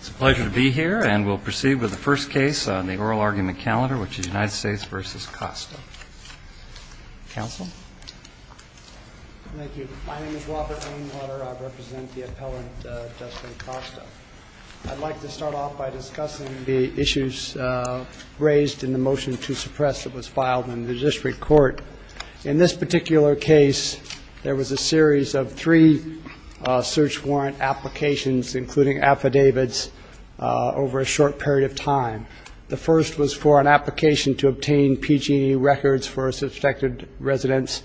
It's a pleasure to be here, and we'll proceed with the first case on the oral argument calendar, which is United States v. Costa. Counsel? Thank you. My name is Robert Rainwater. I represent the appellant, Justin Costa. I'd like to start off by discussing the issues raised in the motion to suppress that was filed in the district court. In this particular case, there was a series of three search warrant applications, including affidavits, over a short period of time. The first was for an application to obtain PG records for a suspected residence.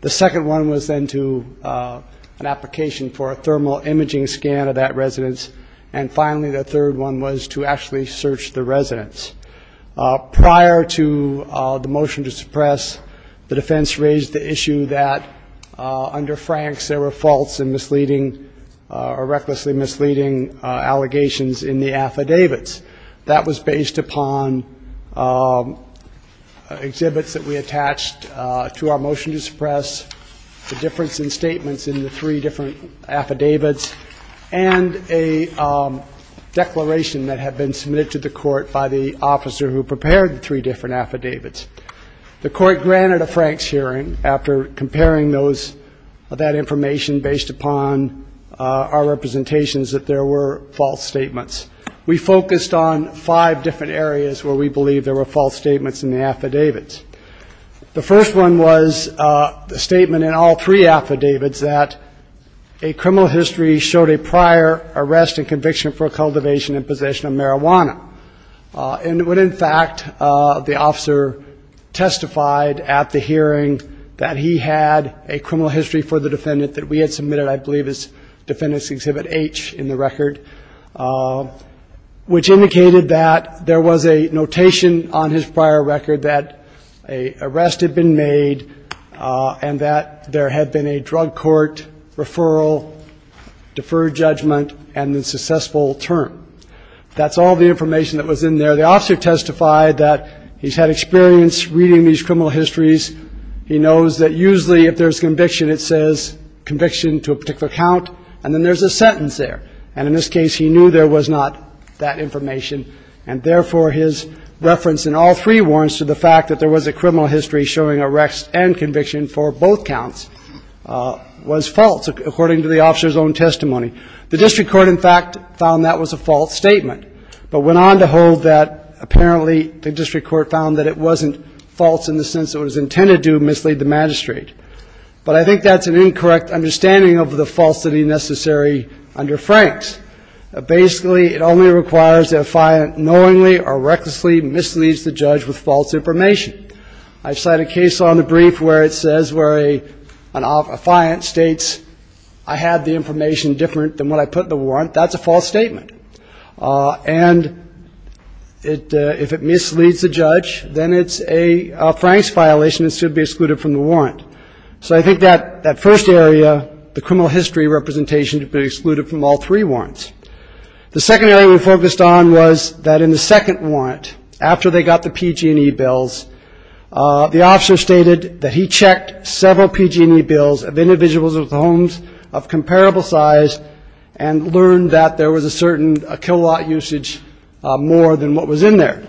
The second one was then to an application for a thermal imaging scan of that residence. And finally, the third one was to actually search the residence. Prior to the motion to suppress, the defense raised the issue that, under Franks, there were false and misleading or recklessly misleading allegations in the affidavits. That was based upon exhibits that we attached to our motion to suppress, the difference in statements in the three different affidavits, and a declaration that had been submitted to the court by the officer who prepared the three different affidavits. The court granted a Franks hearing after comparing those, that information based upon our representations that there were false statements. We focused on five different areas where we believe there were false statements in the affidavits. The first one was the statement in all three affidavits that a criminal history showed a prior arrest and conviction for cultivation and possession of marijuana. And when, in fact, the officer testified at the hearing that he had a criminal history for the defendant that we had submitted, I believe it's Defendant's Exhibit H in the record, which indicated that there was a notation on his prior record that an arrest had been made and that there had been a drug court referral, deferred judgment, and a successful term. That's all the information that was in there. The officer testified that he's had experience reading these criminal histories. He knows that usually if there's conviction, it says conviction to a particular count, and then there's a sentence there. And in this case, he knew there was not that information. And therefore, his reference in all three warrants to the fact that there was a criminal history showing arrest and conviction for both counts was false, according to the officer's own testimony. The district court, in fact, found that was a false statement, but went on to hold that, apparently, the district court found that it wasn't false in the sense that it was intended to mislead the magistrate. But I think that's an incorrect understanding of the falsity necessary under Frank's. Basically, it only requires that a fiant knowingly or recklessly misleads the judge with false information. I've cited a case on the brief where it says where a fiant states, I had the information different than what I put in the warrant. That's a false statement. And if it misleads the judge, then it's a Frank's violation. It should be excluded from the warrant. So I think that first area, the criminal history representation, should be excluded from all three warrants. The second area we focused on was that in the second warrant, after they got the PG&E bills, the officer stated that he checked several PG&E bills of individuals with homes of comparable size and learned that there was a certain kilowatt usage more than what was in there.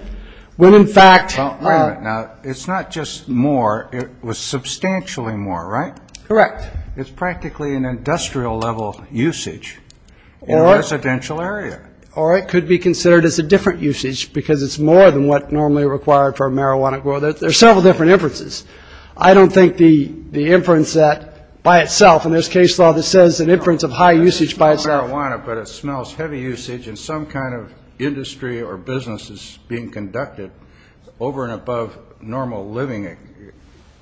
When, in fact ---- Well, wait a minute. Now, it's not just more. It was substantially more, right? Correct. It's practically an industrial-level usage in a residential area. Or it could be considered as a different usage because it's more than what normally required for a marijuana grower. There are several different inferences. I don't think the inference that by itself, and there's case law that says an inference of high usage by itself. It's not marijuana, but it smells heavy usage, and some kind of industry or business is being conducted over and above normal living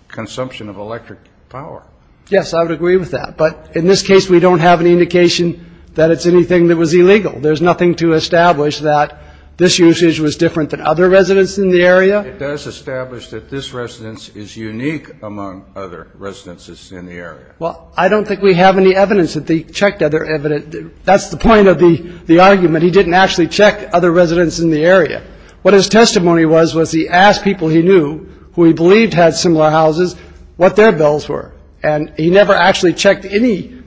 consumption of electric power. Yes, I would agree with that. But in this case, we don't have an indication that it's anything that was illegal. There's nothing to establish that this usage was different than other residents in the area. It does establish that this residence is unique among other residences in the area. Well, I don't think we have any evidence that they checked other evidence. That's the point of the argument. He didn't actually check other residents in the area. What his testimony was was he asked people he knew who he believed had similar houses what their bills were, and he never actually checked any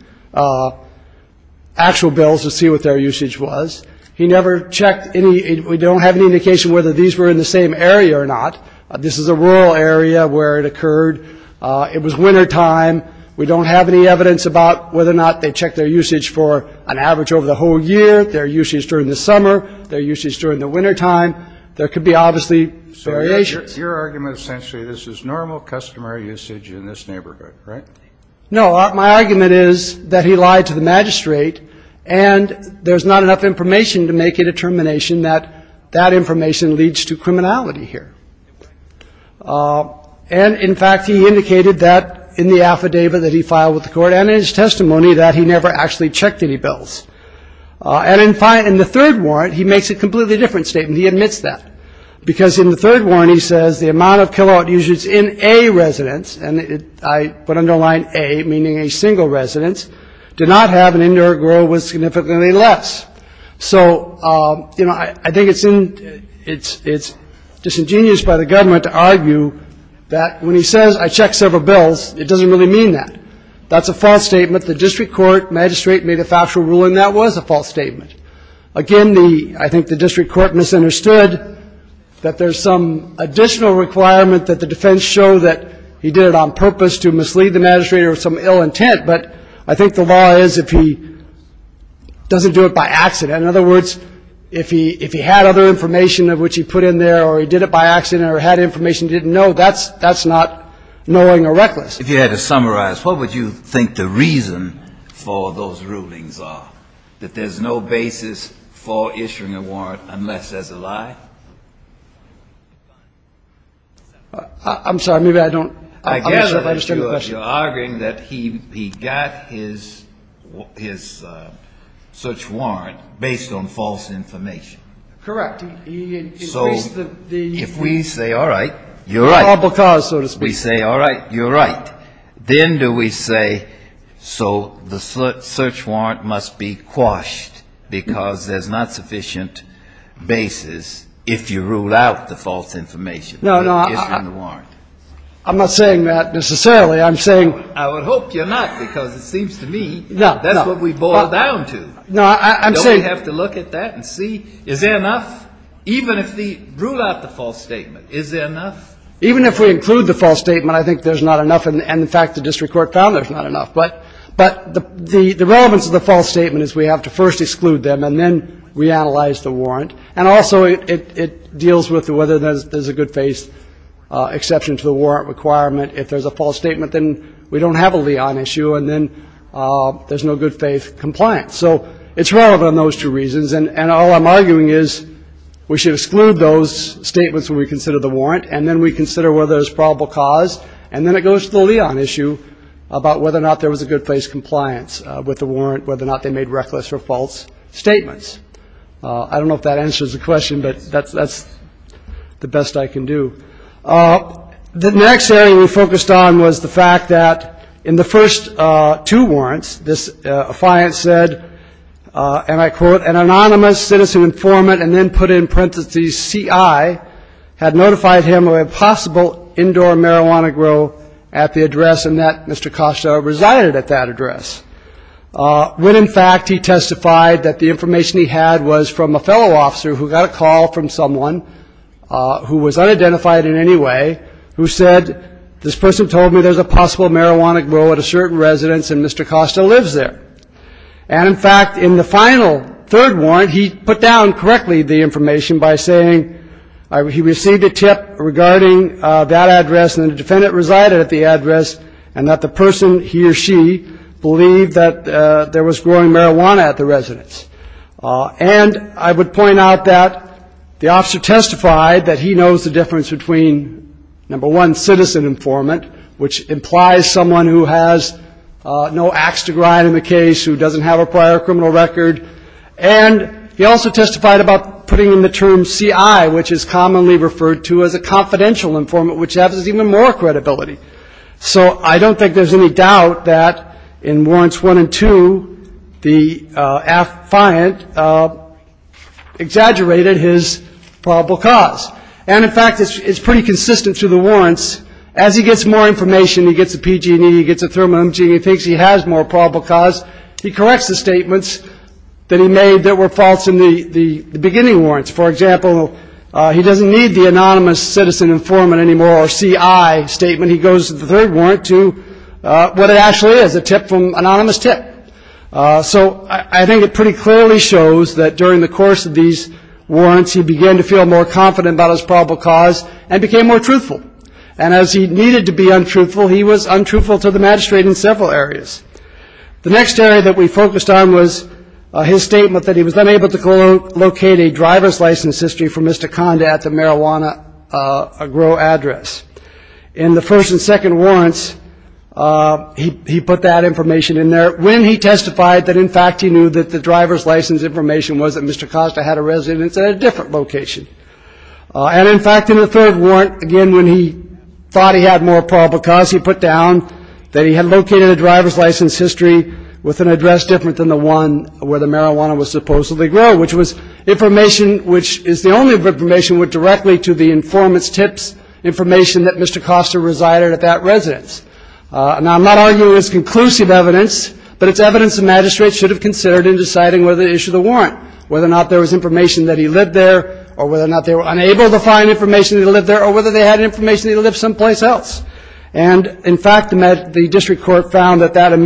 actual bills to see what their usage was. He never checked any. We don't have any indication whether these were in the same area or not. This is a rural area where it occurred. It was wintertime. We don't have any evidence about whether or not they checked their usage for an average over the whole year, their usage during the summer, their usage during the wintertime. There could be obviously variations. So your argument is essentially this is normal customer usage in this neighborhood, right? No. Well, my argument is that he lied to the magistrate, and there's not enough information to make a determination that that information leads to criminality here. And, in fact, he indicated that in the affidavit that he filed with the court and in his testimony that he never actually checked any bills. And in the third warrant, he makes a completely different statement. He admits that because in the third warrant he says the amount of kilowatt usage in a residence, and I put under line A, meaning a single residence, did not have an indoor grow with significantly less. So, you know, I think it's disingenuous by the government to argue that when he says, I checked several bills, it doesn't really mean that. That's a false statement. The district court magistrate made a factual rule, and that was a false statement. Again, I think the district court misunderstood that there's some additional requirement that the defense show that he did it on purpose to mislead the magistrate or some ill intent. But I think the law is if he doesn't do it by accident. In other words, if he had other information of which he put in there or he did it by accident or had information he didn't know, that's not knowing or reckless. If you had to summarize, what would you think the reason for those rulings are, that there's no basis for issuing a warrant unless there's a lie? I'm sorry. Maybe I don't understand the question. I guess you're arguing that he got his search warrant based on false information. Correct. So if we say, all right, you're right. All because, so to speak. We say, all right, you're right. Then do we say, so the search warrant must be quashed because there's not sufficient basis if you rule out the false information. No, no. Issuing the warrant. I'm not saying that necessarily. I'm saying. I would hope you're not, because it seems to me that's what we boil down to. No, I'm saying. Don't we have to look at that and see, is there enough? Even if we rule out the false statement, is there enough? Even if we include the false statement, I think there's not enough. And, in fact, the district court found there's not enough. But the relevance of the false statement is we have to first exclude them and then reanalyze the warrant. And also it deals with whether there's a good faith exception to the warrant requirement. If there's a false statement, then we don't have a lien issue. And then there's no good faith compliance. So it's relevant on those two reasons. And all I'm arguing is we should exclude those statements when we consider the warrant. And then we consider whether there's probable cause. And then it goes to the lien issue about whether or not there was a good faith compliance with the warrant, whether or not they made reckless or false statements. I don't know if that answers the question, but that's the best I can do. The next area we focused on was the fact that in the first two warrants, this client said, and I quote, an anonymous citizen informant, and then put in parentheses CI, had notified him of a possible indoor marijuana grow at the address and that Mr. Costa resided at that address, when, in fact, he testified that the information he had was from a fellow officer who got a call from someone who was unidentified in any way, who said, this person told me there's a possible marijuana grow at a certain residence and Mr. Costa lives there. And, in fact, in the final third warrant, he put down correctly the information by saying he received a tip regarding that address and the defendant resided at the address and that the person, he or she, believed that there was growing marijuana at the residence. And I would point out that the officer testified that he knows the difference between, number one, an anonymous citizen informant, which implies someone who has no ax to grind in the case, who doesn't have a prior criminal record, and he also testified about putting in the term CI, which is commonly referred to as a confidential informant, which has even more credibility. So I don't think there's any doubt that in warrants one and two, the affiant exaggerated his probable cause. And, in fact, it's pretty consistent through the warrants. As he gets more information, he gets a PG&E, he gets a thermal imaging, he thinks he has more probable cause, he corrects the statements that he made that were false in the beginning warrants. For example, he doesn't need the anonymous citizen informant anymore or CI statement. He goes to the third warrant to what it actually is, a tip from anonymous tip. So I think it pretty clearly shows that during the course of these warrants, he began to feel more confident about his probable cause and became more truthful. And as he needed to be untruthful, he was untruthful to the magistrate in several areas. The next area that we focused on was his statement that he was unable to locate a driver's license history for Mr. Conda at the marijuana agro address. In the first and second warrants, he put that information in there when he testified that, in fact, he knew that the driver's license information was that Mr. Costa had a residence at a different location. And, in fact, in the third warrant, again, when he thought he had more probable cause, he put down that he had located a driver's license history with an address different than the one where the marijuana was supposedly grown, which was information which is the only information that went directly to the informant's tips information that Mr. Costa resided at that residence. Now, I'm not arguing it's conclusive evidence, but it's evidence the magistrate should have considered in deciding whether to issue the warrant, whether or not there was information that he lived there or whether or not they were unable to find information that he lived there or whether they had information that he lived someplace else. And, in fact, the district court found that that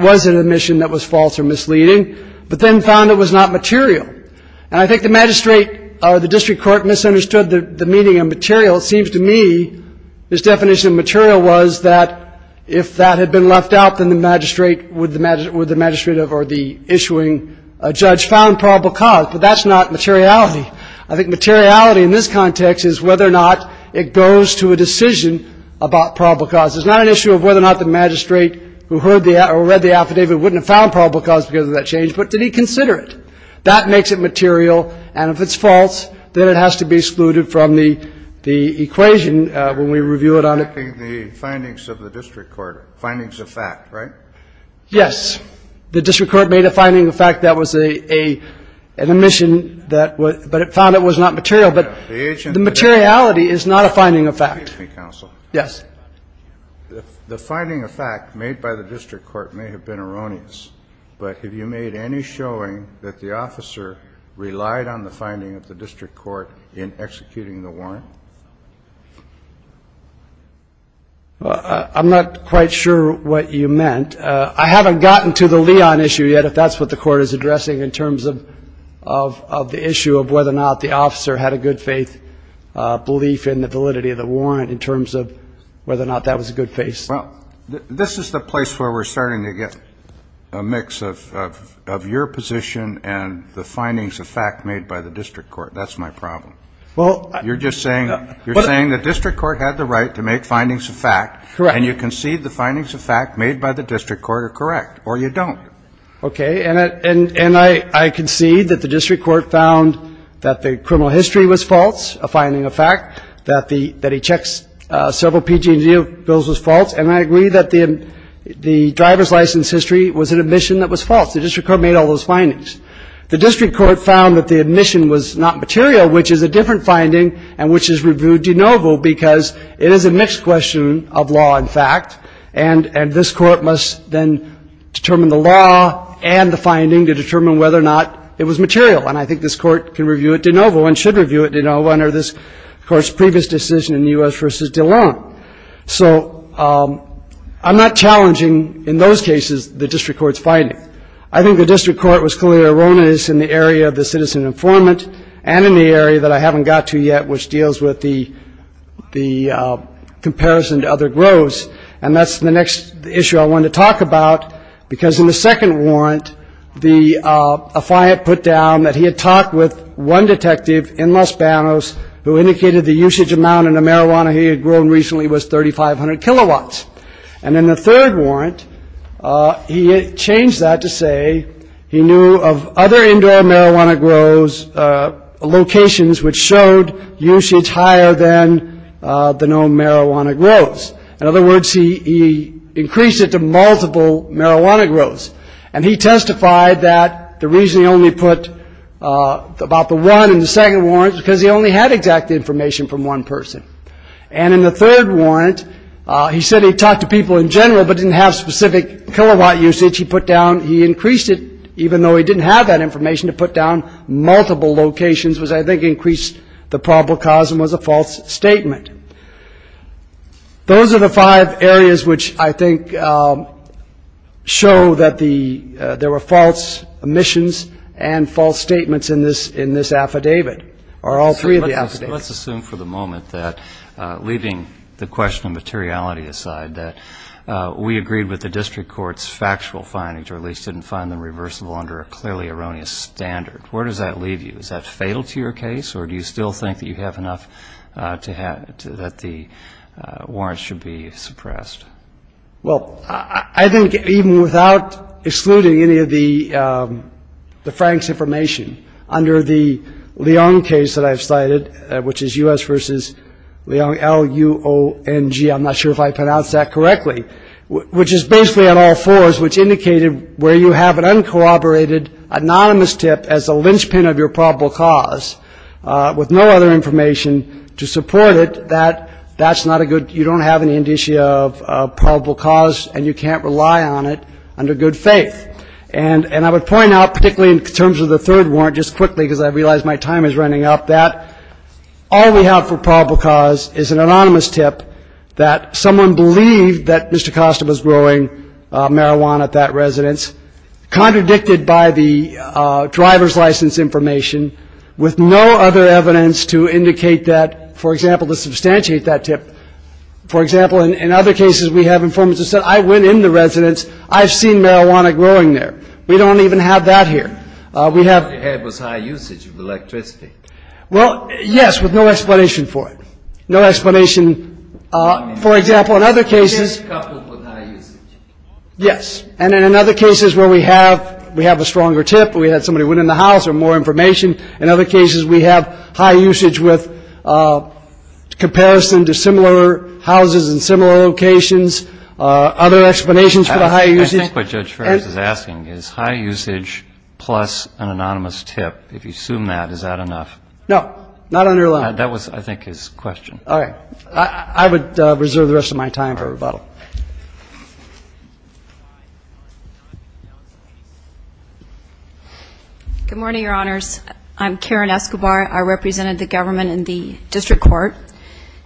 was an admission that was false or misleading, but then found it was not material. And I think the magistrate or the district court misunderstood the meaning of material. It seems to me his definition of material was that if that had been left out, then the magistrate or the issuing judge found probable cause, but that's not materiality. I think materiality in this context is whether or not it goes to a decision about probable cause. It's not an issue of whether or not the magistrate who read the affidavit wouldn't have found probable cause because of that change, but did he consider it? That makes it material. And if it's false, then it has to be excluded from the equation when we review it on it. The findings of the district court, findings of fact, right? Yes. The district court made a finding of fact that was an admission, but it found it was not material. But the materiality is not a finding of fact. Excuse me, counsel. Yes. The finding of fact made by the district court may have been erroneous, but have you made any showing that the officer relied on the finding of the district court in executing the warrant? I'm not quite sure what you meant. I haven't gotten to the Leon issue yet, if that's what the court is addressing in terms of the issue of whether or not the officer had a good faith belief in the validity of the warrant in terms of whether or not that was a good faith. Well, this is the place where we're starting to get a mix of your position and the findings of fact made by the district court. That's my problem. You're just saying the district court had the right to make findings of fact. Correct. And you concede the findings of fact made by the district court are correct, or you don't. Okay. And I concede that the district court found that the criminal history was false, a finding of fact, that he checks several PG&E bills was false, and I agree that the driver's license history was an admission that was false. The district court made all those findings. The district court found that the admission was not material, which is a different finding, and which is reviewed de novo because it is a mixed question of law and fact, and this court must then determine the law and the finding to determine whether or not it was material. And I think this court can review it de novo and should review it de novo under this court's previous decision in U.S. v. DeLong. So I'm not challenging in those cases the district court's finding. I think the district court was clearly erroneous in the area of the citizen informant and in the area that I haven't got to yet, which deals with the comparison to other groves, and that's the next issue I want to talk about, because in the second warrant, a client put down that he had talked with one detective in Los Banos who indicated the usage amount in the marijuana he had grown recently was 3,500 kilowatts. And in the third warrant, he changed that to say he knew of other indoor marijuana groves locations which showed usage higher than the known marijuana groves. In other words, he increased it to multiple marijuana groves. And he testified that the reason he only put about the one in the second warrant is because he only had exact information from one person. And in the third warrant, he said he talked to people in general but didn't have specific kilowatt usage. He put down he increased it, even though he didn't have that information, to put down multiple locations, which I think increased the probable cause and was a false statement. Those are the five areas which I think show that there were false omissions and false statements in this affidavit, or all three of the affidavits. Let's assume for the moment that, leaving the question of materiality aside, that we agreed with the district court's factual findings, or at least didn't find them reversible under a clearly erroneous standard. Where does that leave you? Is that fatal to your case, or do you still think that you have enough that the warrants should be suppressed? Well, I think even without excluding any of the Franks' information, under the Leong case that I've cited, which is U.S. v. Leong, L-U-O-N-G, I'm not sure if I pronounced that correctly, which is basically on all fours, which indicated where you have an uncooperated anonymous tip as a linchpin of your probable cause, with no other information to support it, that that's not a good, you don't have any indicia of probable cause and you can't rely on it under good faith. And I would point out, particularly in terms of the third warrant, just quickly, because I realize my time is running up, that all we have for probable cause is an anonymous tip that someone believed that Mr. Costa was growing marijuana at that residence, contradicted by the driver's license information, with no other evidence to indicate that, for example, to substantiate that tip. For example, in other cases, we have information that says, I went in the residence, I've seen marijuana growing there. We don't even have that here. We have — Your head was high usage of electricity. Well, yes, with no explanation for it. No explanation. For example, in other cases — Case coupled with high usage. Yes. And in other cases where we have a stronger tip, we had somebody went in the house, or more information, in other cases we have high usage with comparison to similar houses in similar locations. Other explanations for the high usage — I think what Judge Ferris is asking is high usage plus an anonymous tip, if you assume that, is that enough? No. Not underlined. That was, I think, his question. All right. I would reserve the rest of my time for rebuttal. Good morning, Your Honors. I'm Karen Escobar. I represented the government in the district court,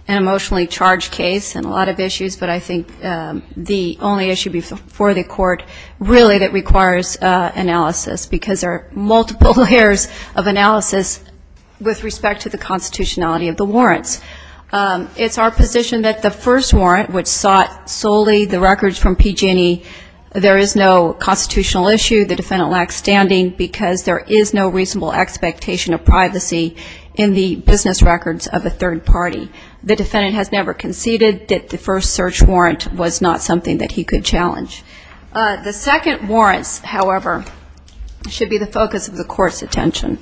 an emotionally charged case and a lot of issues, but I think the only issue before the court really that requires analysis, because there are multiple layers of analysis with respect to the constitutionality of the warrants. It's our position that the first warrant, which sought solely the records from PG&E, there is no constitutional issue. The defendant lacks standing because there is no reasonable expectation of privacy in the business records of a third party. The defendant has never conceded that the first search warrant was not something that he could challenge. The second warrants, however, should be the focus of the court's attention.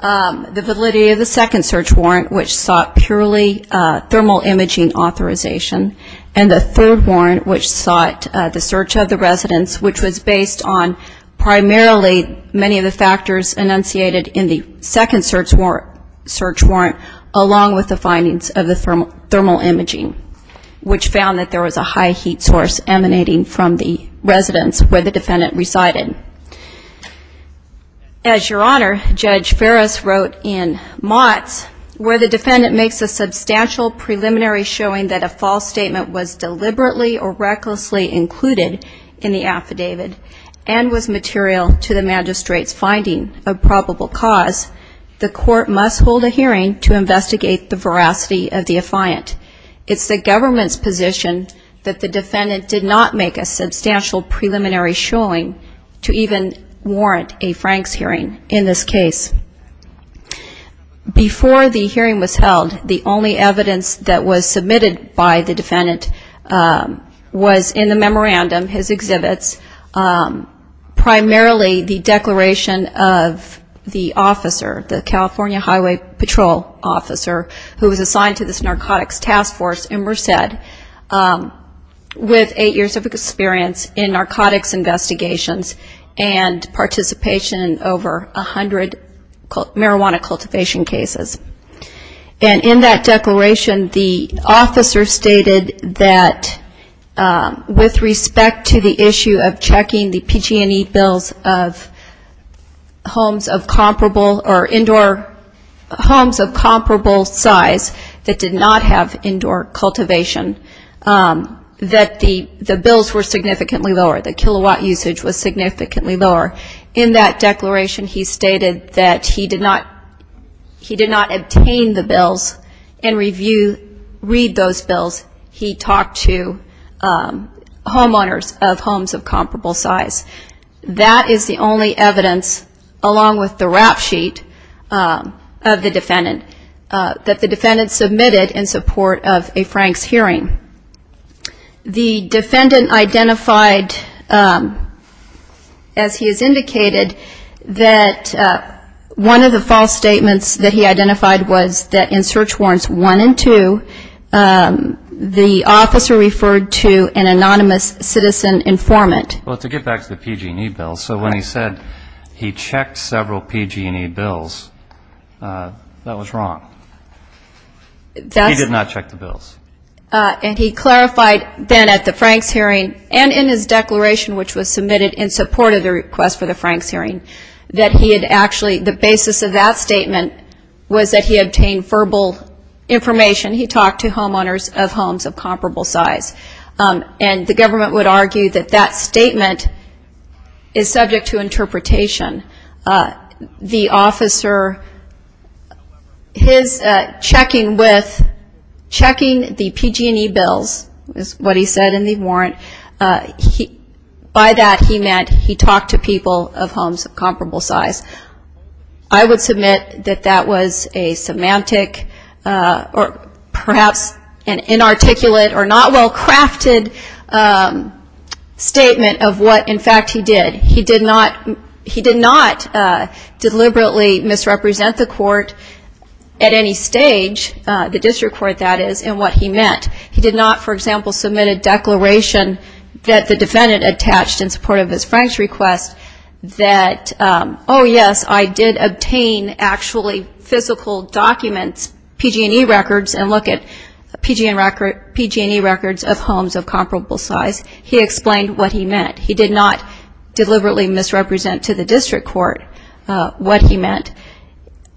The validity of the second search warrant, which sought purely thermal imaging authorization, and the third warrant, which sought the search of the residents, which was based on primarily many of the factors enunciated in the second search warrant, along with the findings of the thermal imaging, which found that there was a high heat source emanating from the residence where the defendant resided. As Your Honor, Judge Ferris wrote in Motts, where the defendant makes a substantial preliminary showing that a false statement was deliberately or recklessly included in the affidavit and was material to the magistrate's finding of probable cause, the court must hold a hearing to investigate the veracity of the affiant. It's the government's position that the defendant did not make a substantial preliminary showing to even warrant a Franks hearing in this case. Before the hearing was held, the only evidence that was submitted by the defendant was in the memorandum, his exhibits, primarily the declaration of the officer, the California Highway Patrol officer, who was assigned to this narcotics task force in Merced, with eight years of experience in narcotics investigations and participation in over 100 marijuana cultivation cases. And in that declaration, the officer stated that with respect to the issue of checking the PG&E bills of homes of comparable or indoor homes of comparable size that did not have indoor cultivation, that the bills were significantly lower, the kilowatt usage was significantly lower. In that declaration, he stated that he did not obtain the bills and read those bills. He talked to homeowners of homes of comparable size. That is the only evidence, along with the rap sheet of the defendant, that the defendant submitted in support of a Franks hearing. The defendant identified, as he has indicated, that one of the false statements that he identified was that in search warrants one and two, the officer referred to an anonymous citizen informant. Well, to get back to the PG&E bills, so when he said he checked several PG&E bills, that was wrong. He did not check the bills. And he clarified then at the Franks hearing and in his declaration, which was submitted in support of the request for the Franks hearing, that he had actually, the basis of that statement was that he obtained verbal information. He talked to homeowners of homes of comparable size. And the government would argue that that statement is subject to interpretation. The officer, his checking with, checking the PG&E bills is what he said in the warrant. By that, he meant he talked to people of homes of comparable size. I would submit that that was a semantic or perhaps an inarticulate or not well-crafted statement of what, in fact, he did. He did not deliberately misrepresent the court at any stage, the district court, that is, in what he meant. He did not, for example, submit a declaration that the defendant attached in support of his Franks request that, oh, yes, I did obtain actually physical documents, PG&E records, and look at PG&E records of homes of comparable size. He explained what he meant. He did not deliberately misrepresent to the district court what he meant.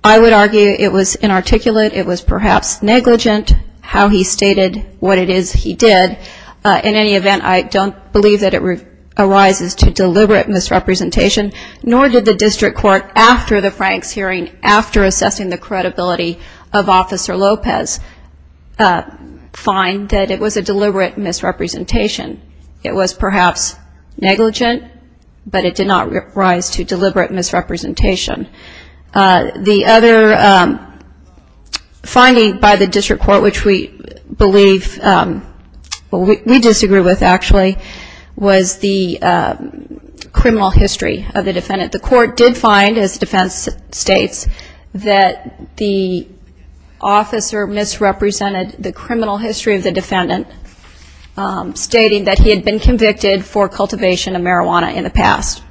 I would argue it was inarticulate. It was perhaps negligent how he stated what it is he did. In any event, I don't believe that it arises to deliberate misrepresentation, nor did the district court after the Franks hearing, after assessing the credibility of Officer Lopez, find that it was a deliberate misrepresentation. It was perhaps negligent, but it did not rise to deliberate misrepresentation. The other finding by the district court, which we believe, well, we disagree with actually, was the criminal history of the defendant. The court did find, as the defense states, that the officer misrepresented the criminal history of the defendant, stating that he had been convicted for cultivation of marijuana in the past.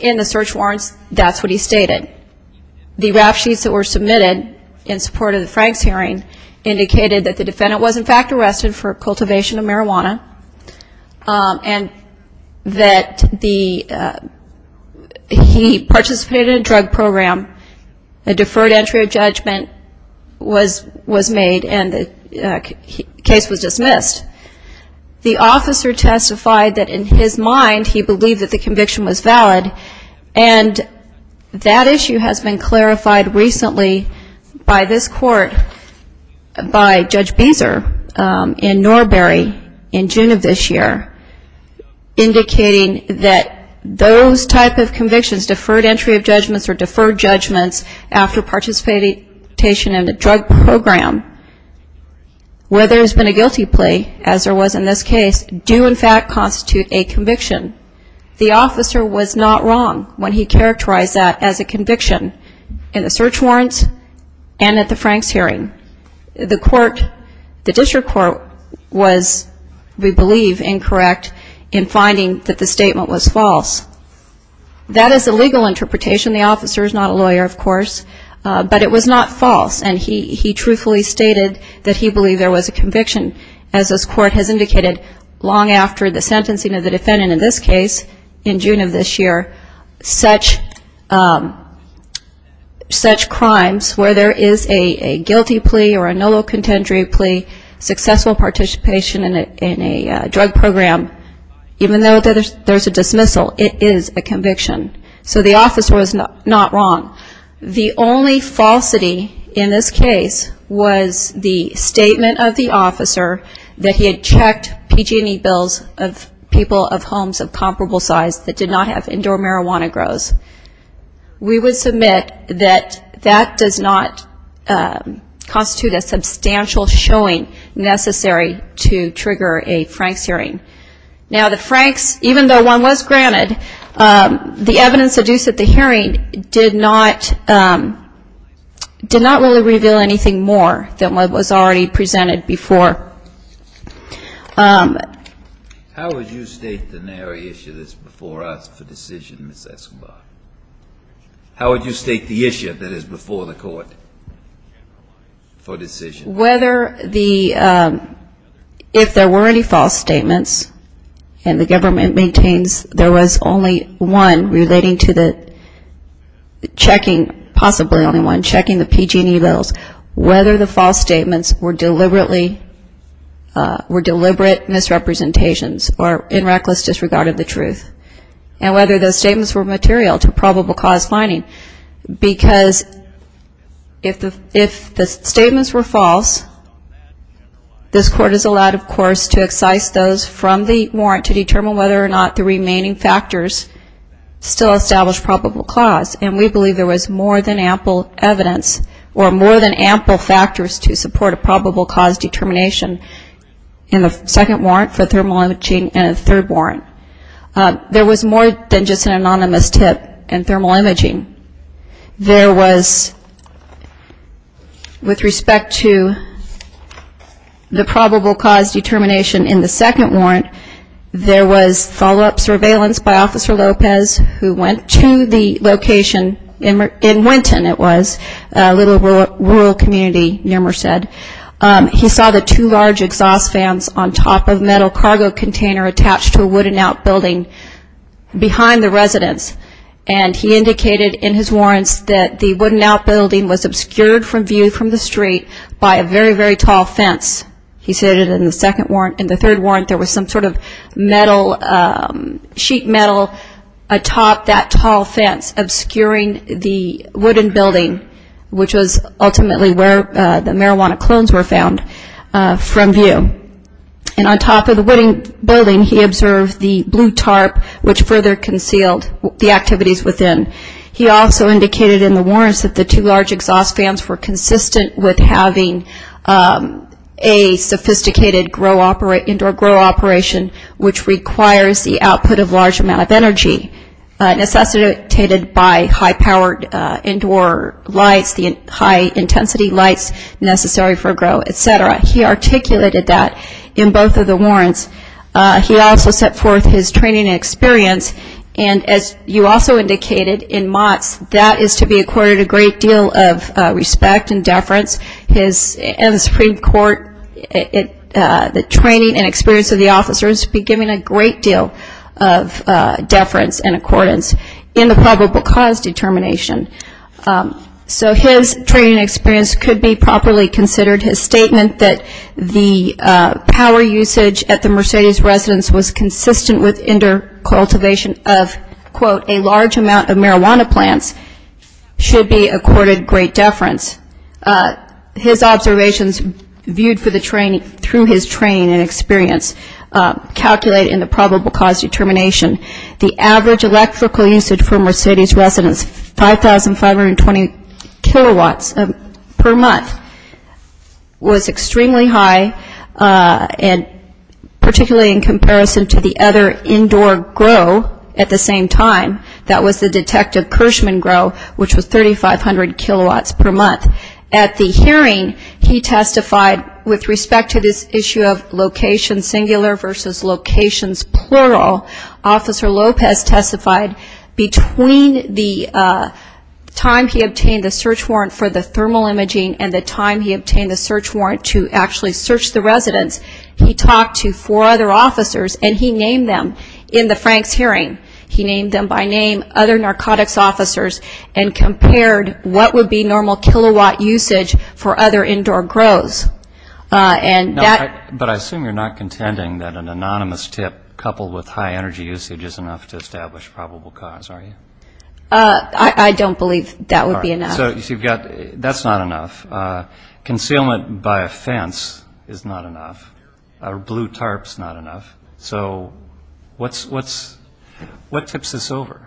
In the search warrants, that's what he stated. The rap sheets that were submitted in support of the Franks hearing indicated that the defendant was, in fact, arrested for cultivation of marijuana and that he participated in a drug program, a deferred entry of judgment was made, and the case was dismissed. The officer testified that in his mind he believed that the conviction was valid, and that issue has been clarified recently by this court, by Judge Beeser in Norbury in June of this year, indicating that those type of convictions, deferred entry of judgments or deferred judgments, after participation in a drug program, whether it's been a guilty plea, as there was in this case, do, in fact, constitute a conviction. The officer was not wrong when he characterized that as a conviction in the search warrants and at the Franks hearing. The court, the district court was, we believe, incorrect in finding that the statement was false. That is a legal interpretation. The officer is not a lawyer, of course, but it was not false, and he truthfully stated that he believed there was a conviction, as this court has indicated long after the sentencing of the defendant in this case in June of this year, such crimes where there is a guilty plea or a noble contendory plea, successful participation in a drug program, even though there's a dismissal, it is a conviction. So the officer was not wrong. The only falsity in this case was the statement of the officer that he had checked PG&E bills of people of homes of comparable size that did not have indoor marijuana grows. We would submit that that does not constitute a substantial showing necessary to trigger a Franks hearing. Now, the Franks, even though one was granted, the evidence adduced at the hearing did not really reveal anything more than what was already presented before. How would you state the narrow issue that's before us for decision, Ms. Escobar? How would you state the issue that is before the court for decision? Whether the ‑‑ if there were any false statements, and the government maintains there was only one relating to the checking, possibly only one, checking the PG&E bills, whether the false statements were deliberately misrepresentations or in reckless disregard of the truth, and whether those statements were material to probable cause finding, because if the statements were false, this court is allowed, of course, to excise those from the warrant to determine whether or not the remaining factors still establish probable cause, and we believe there was more than ample factors to support a probable cause determination in the second warrant for thermal imaging than a third warrant. There was more than just an anonymous tip in thermal imaging. There was, with respect to the probable cause determination in the second warrant, there was follow‑up surveillance by Officer Lopez, who went to the location in Winton, it was, a little rural community in Winton. He saw the two large exhaust fans on top of a metal cargo container attached to a wooden outbuilding behind the residence, and he indicated in his warrants that the wooden outbuilding was obscured from view from the street by a very, very tall fence. He said in the third warrant there was some sort of metal, sheet metal atop that tall fence obscuring the marijuana clones were found from view, and on top of the wooden building he observed the blue tarp, which further concealed the activities within. He also indicated in the warrants that the two large exhaust fans were consistent with having a sophisticated grow, indoor grow operation, which requires the output of large amount of energy necessitated by high‑powered indoor lights, the high‑intensity lights necessary for grow, etc. He articulated that in both of the warrants. He also set forth his training and experience, and as you also indicated, in MOTS, that is to be accorded a great deal of respect and deference. In the Supreme Court, the training and experience of the officers would be given a great deal of deference and accordance in the probable cause determination. So his training and experience could be properly considered. His statement that the power usage at the Mercedes residence was consistent with indoor cultivation of, quote, a large amount of marijuana plants should be accorded great deference. His observations viewed through his training and experience calculated in the probable cause determination. The average electrical usage for Mercedes residence, 5,520 kilowatts per month, was extremely high, and particularly in comparison to the other indoor grow at the same time, that was the detective Kirschman grow, which was 3,500 kilowatts per month. At the hearing, he testified with respect to this issue of location, singular versus locations, plural. Officer Lopez testified that the power usage was consistent with the indoor cultivation of, quote, a large amount of marijuana plants. Between the time he obtained the search warrant for the thermal imaging and the time he obtained the search warrant to actually search the residence, he talked to four other officers, and he named them in the Franks hearing. He named them by name, other narcotics officers, and compared what would be normal kilowatt usage for other indoor grows. And that was his testimony. So, you've got, that's not enough. Concealment by a fence is not enough. Blue tarps, not enough. So, what tips this over?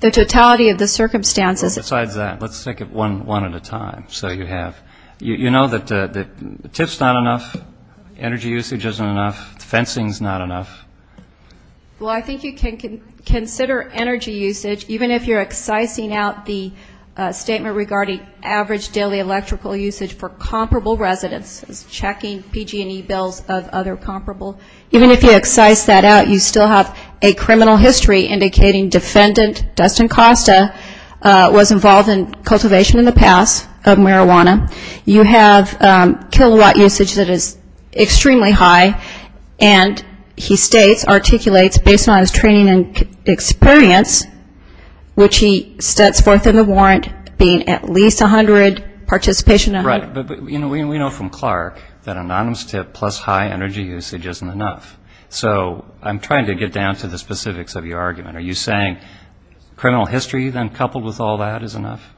The totality of the circumstances. Besides that, let's take it one at a time. So, you have, you know that tips not enough, energy usage isn't enough, fencing's not enough. Well, I think you can consider energy usage, even if you're excising out the statement regarding average daily electrical usage for comparable residences, checking PG&E bills of other comparable, even if you excise that out, you still have a criminal history indicating defendant Dustin Costa was involved in cultivation in the past of marijuana. You have kilowatt usage that is based on his training and experience, which he sets forth in the warrant being at least 100, participation 100. Right, but we know from Clark that anonymous tip plus high energy usage isn't enough. So, I'm trying to get down to the specifics of your argument. Are you saying criminal history, then, coupled with all that is enough?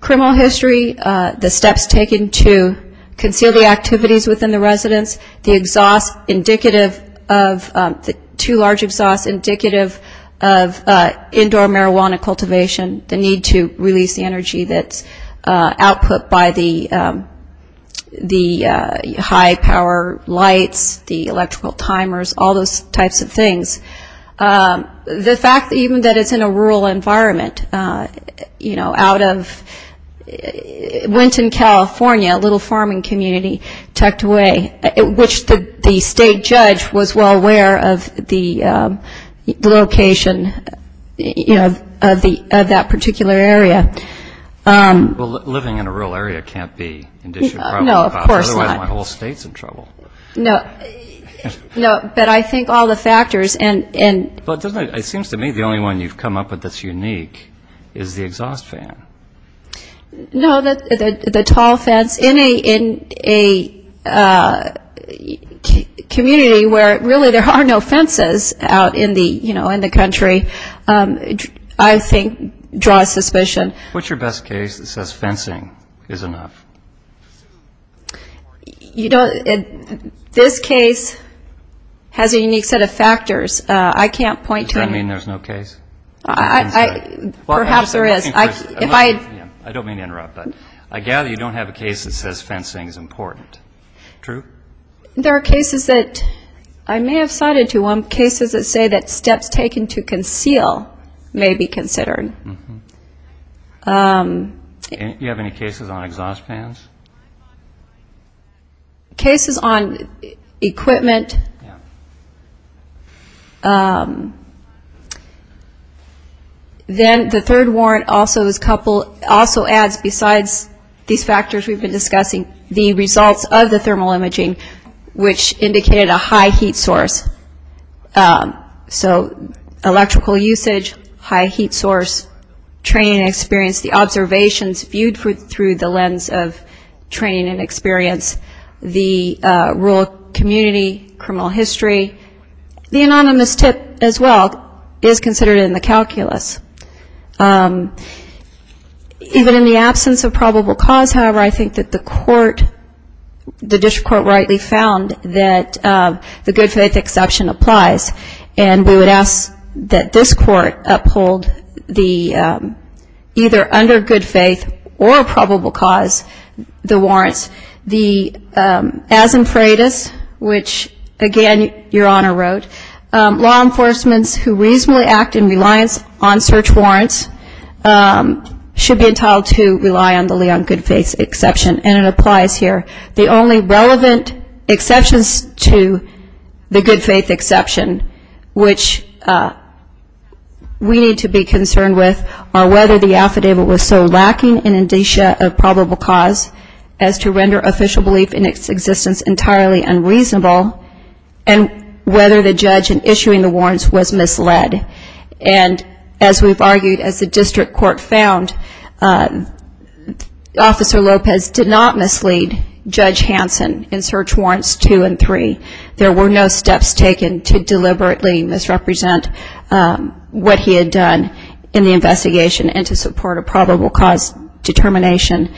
Criminal history, the steps taken to conceal the activities within the residence, the exhaust indicative of, you know, the two large exhaust indicative of indoor marijuana cultivation, the need to release the energy that's output by the high power lights, the electrical timers, all those types of things. The fact that even that it's in a rural environment, you know, out of Winton, California, a little farming community tucked away, which the state judge was well aware of the location, you know, of that particular area. Well, living in a rural area can't be an issue. No, of course not. Otherwise, my whole state's in trouble. No, but I think all the factors and It seems to me the only one you've come up with that's unique is the exhaust fan. No, the tall fence. In a community where really there are no fences out in the country, I think draws suspicion. What's your best case that says fencing is enough? This case has a unique set of factors. Does that mean there's no case? I don't mean to interrupt, but I gather you don't have a case that says fencing is important, true? There are cases that I may have cited to one, cases that say that steps taken to conceal may be considered. Do you have any cases on exhaust fans? Cases on equipment. Then the third warrant also adds, besides these factors we've been discussing, the results of the thermal imaging, which indicated a high heat source. So electrical usage, high heat source, training and experience, the observations viewed through the lens of training and experience, the rural community, criminal history. The anonymous tip as well is considered in the calculus. Even in the absence of probable cause, however, I think that the court, the district court rightly found that the good faith exception, applies, and we would ask that this court uphold the either under good faith or probable cause, the warrants. The as in freitas, which again, your honor wrote, law enforcements who reasonably act in reliance on search warrants should be entitled to rely on the good faith exception, and it applies here. The only relevant exceptions to the good faith exception, which we need to be concerned with, are whether the affidavit was so lacking in indicia of probable cause as to render official belief in its existence entirely unreasonable, and whether the judge in issuing the warrants was misled. And as we've argued, as the district court found, Officer Lopez did not mislead. Judge Hanson in search warrants two and three, there were no steps taken to deliberately misrepresent what he had done in the investigation and to support a probable cause determination.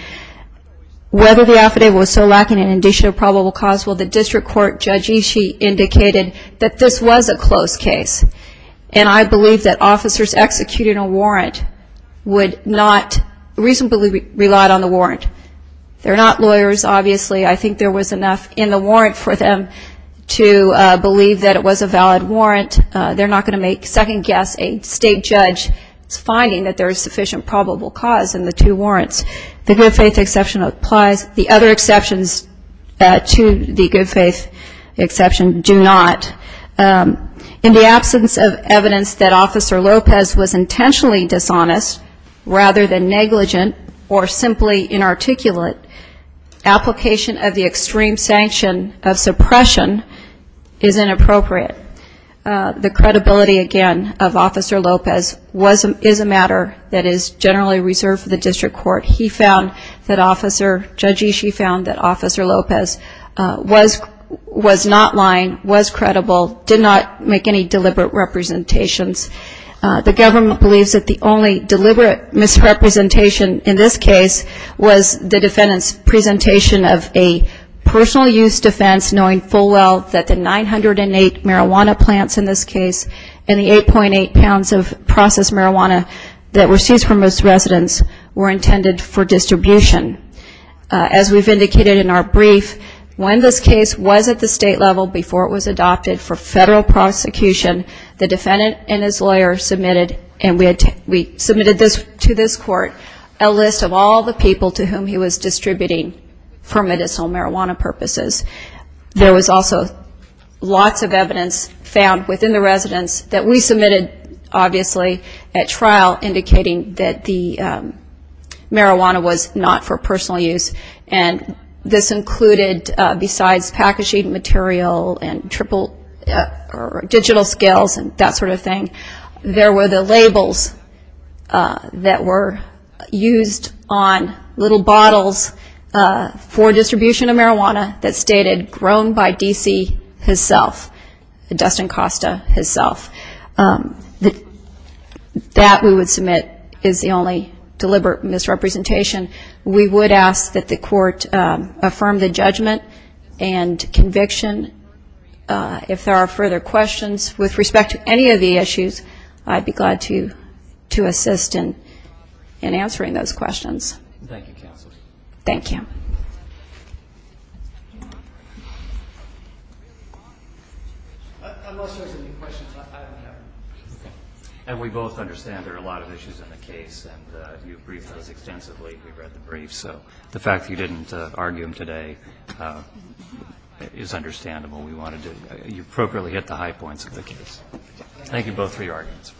Whether the affidavit was so lacking in indicia of probable cause, well, the district court, Judge Ishii, indicated that this was a close case. And I believe that officers executing a warrant would not reasonably rely on the warrant. They're not lawyers, obviously. I think there was enough in the warrant for them to believe that it was a valid warrant. They're not going to make second guess a state judge's finding that there is sufficient probable cause in the two warrants. The good faith exception applies. The other exceptions to the good faith exception do not. In the absence of evidence that Officer Lopez was intentionally dishonest rather than negligent or simply inarticulate, application of the extreme sanction of suppression is inappropriate. The credibility, again, of Officer Lopez is a matter that is generally reserved for the district court. He found that Officer, Judge Ishii found that Officer Lopez was not lying, was credible. Did not make any deliberate representations. The government believes that the only deliberate misrepresentation in this case was the defendant's presentation of a personal use defense knowing full well that the 908 marijuana plants in this case and the 8.8 pounds of processed marijuana that were seized from most residents were intended for distribution. As we've indicated in our brief, when this case was at the state level before it was adopted for federal prosecution, the defendant and his lawyer submitted, and we submitted to this court, a list of all the people to whom he was distributing for medicinal marijuana purposes. There was also lots of evidence found within the residents that we submitted, obviously, at trial indicating that the marijuana was not for personal use, and this included, besides packaging material and triple or digital scales and that sort of thing, there were the labels that were used on little bottles for distribution of marijuana that stated grown by D.C. himself, Dustin Costa himself. That we would submit is the only deliberate misrepresentation. We would ask that the court affirm the judgment and conviction. If there are further questions with respect to any of the issues, I'd be glad to assist in answering those questions. Thank you. And we both understand there are a lot of issues in the case, and you briefed those extensively. We've read the brief, so the fact that you didn't argue them today is understandable. We wanted to appropriately hit the high points of the case. Thank you both for your arguments.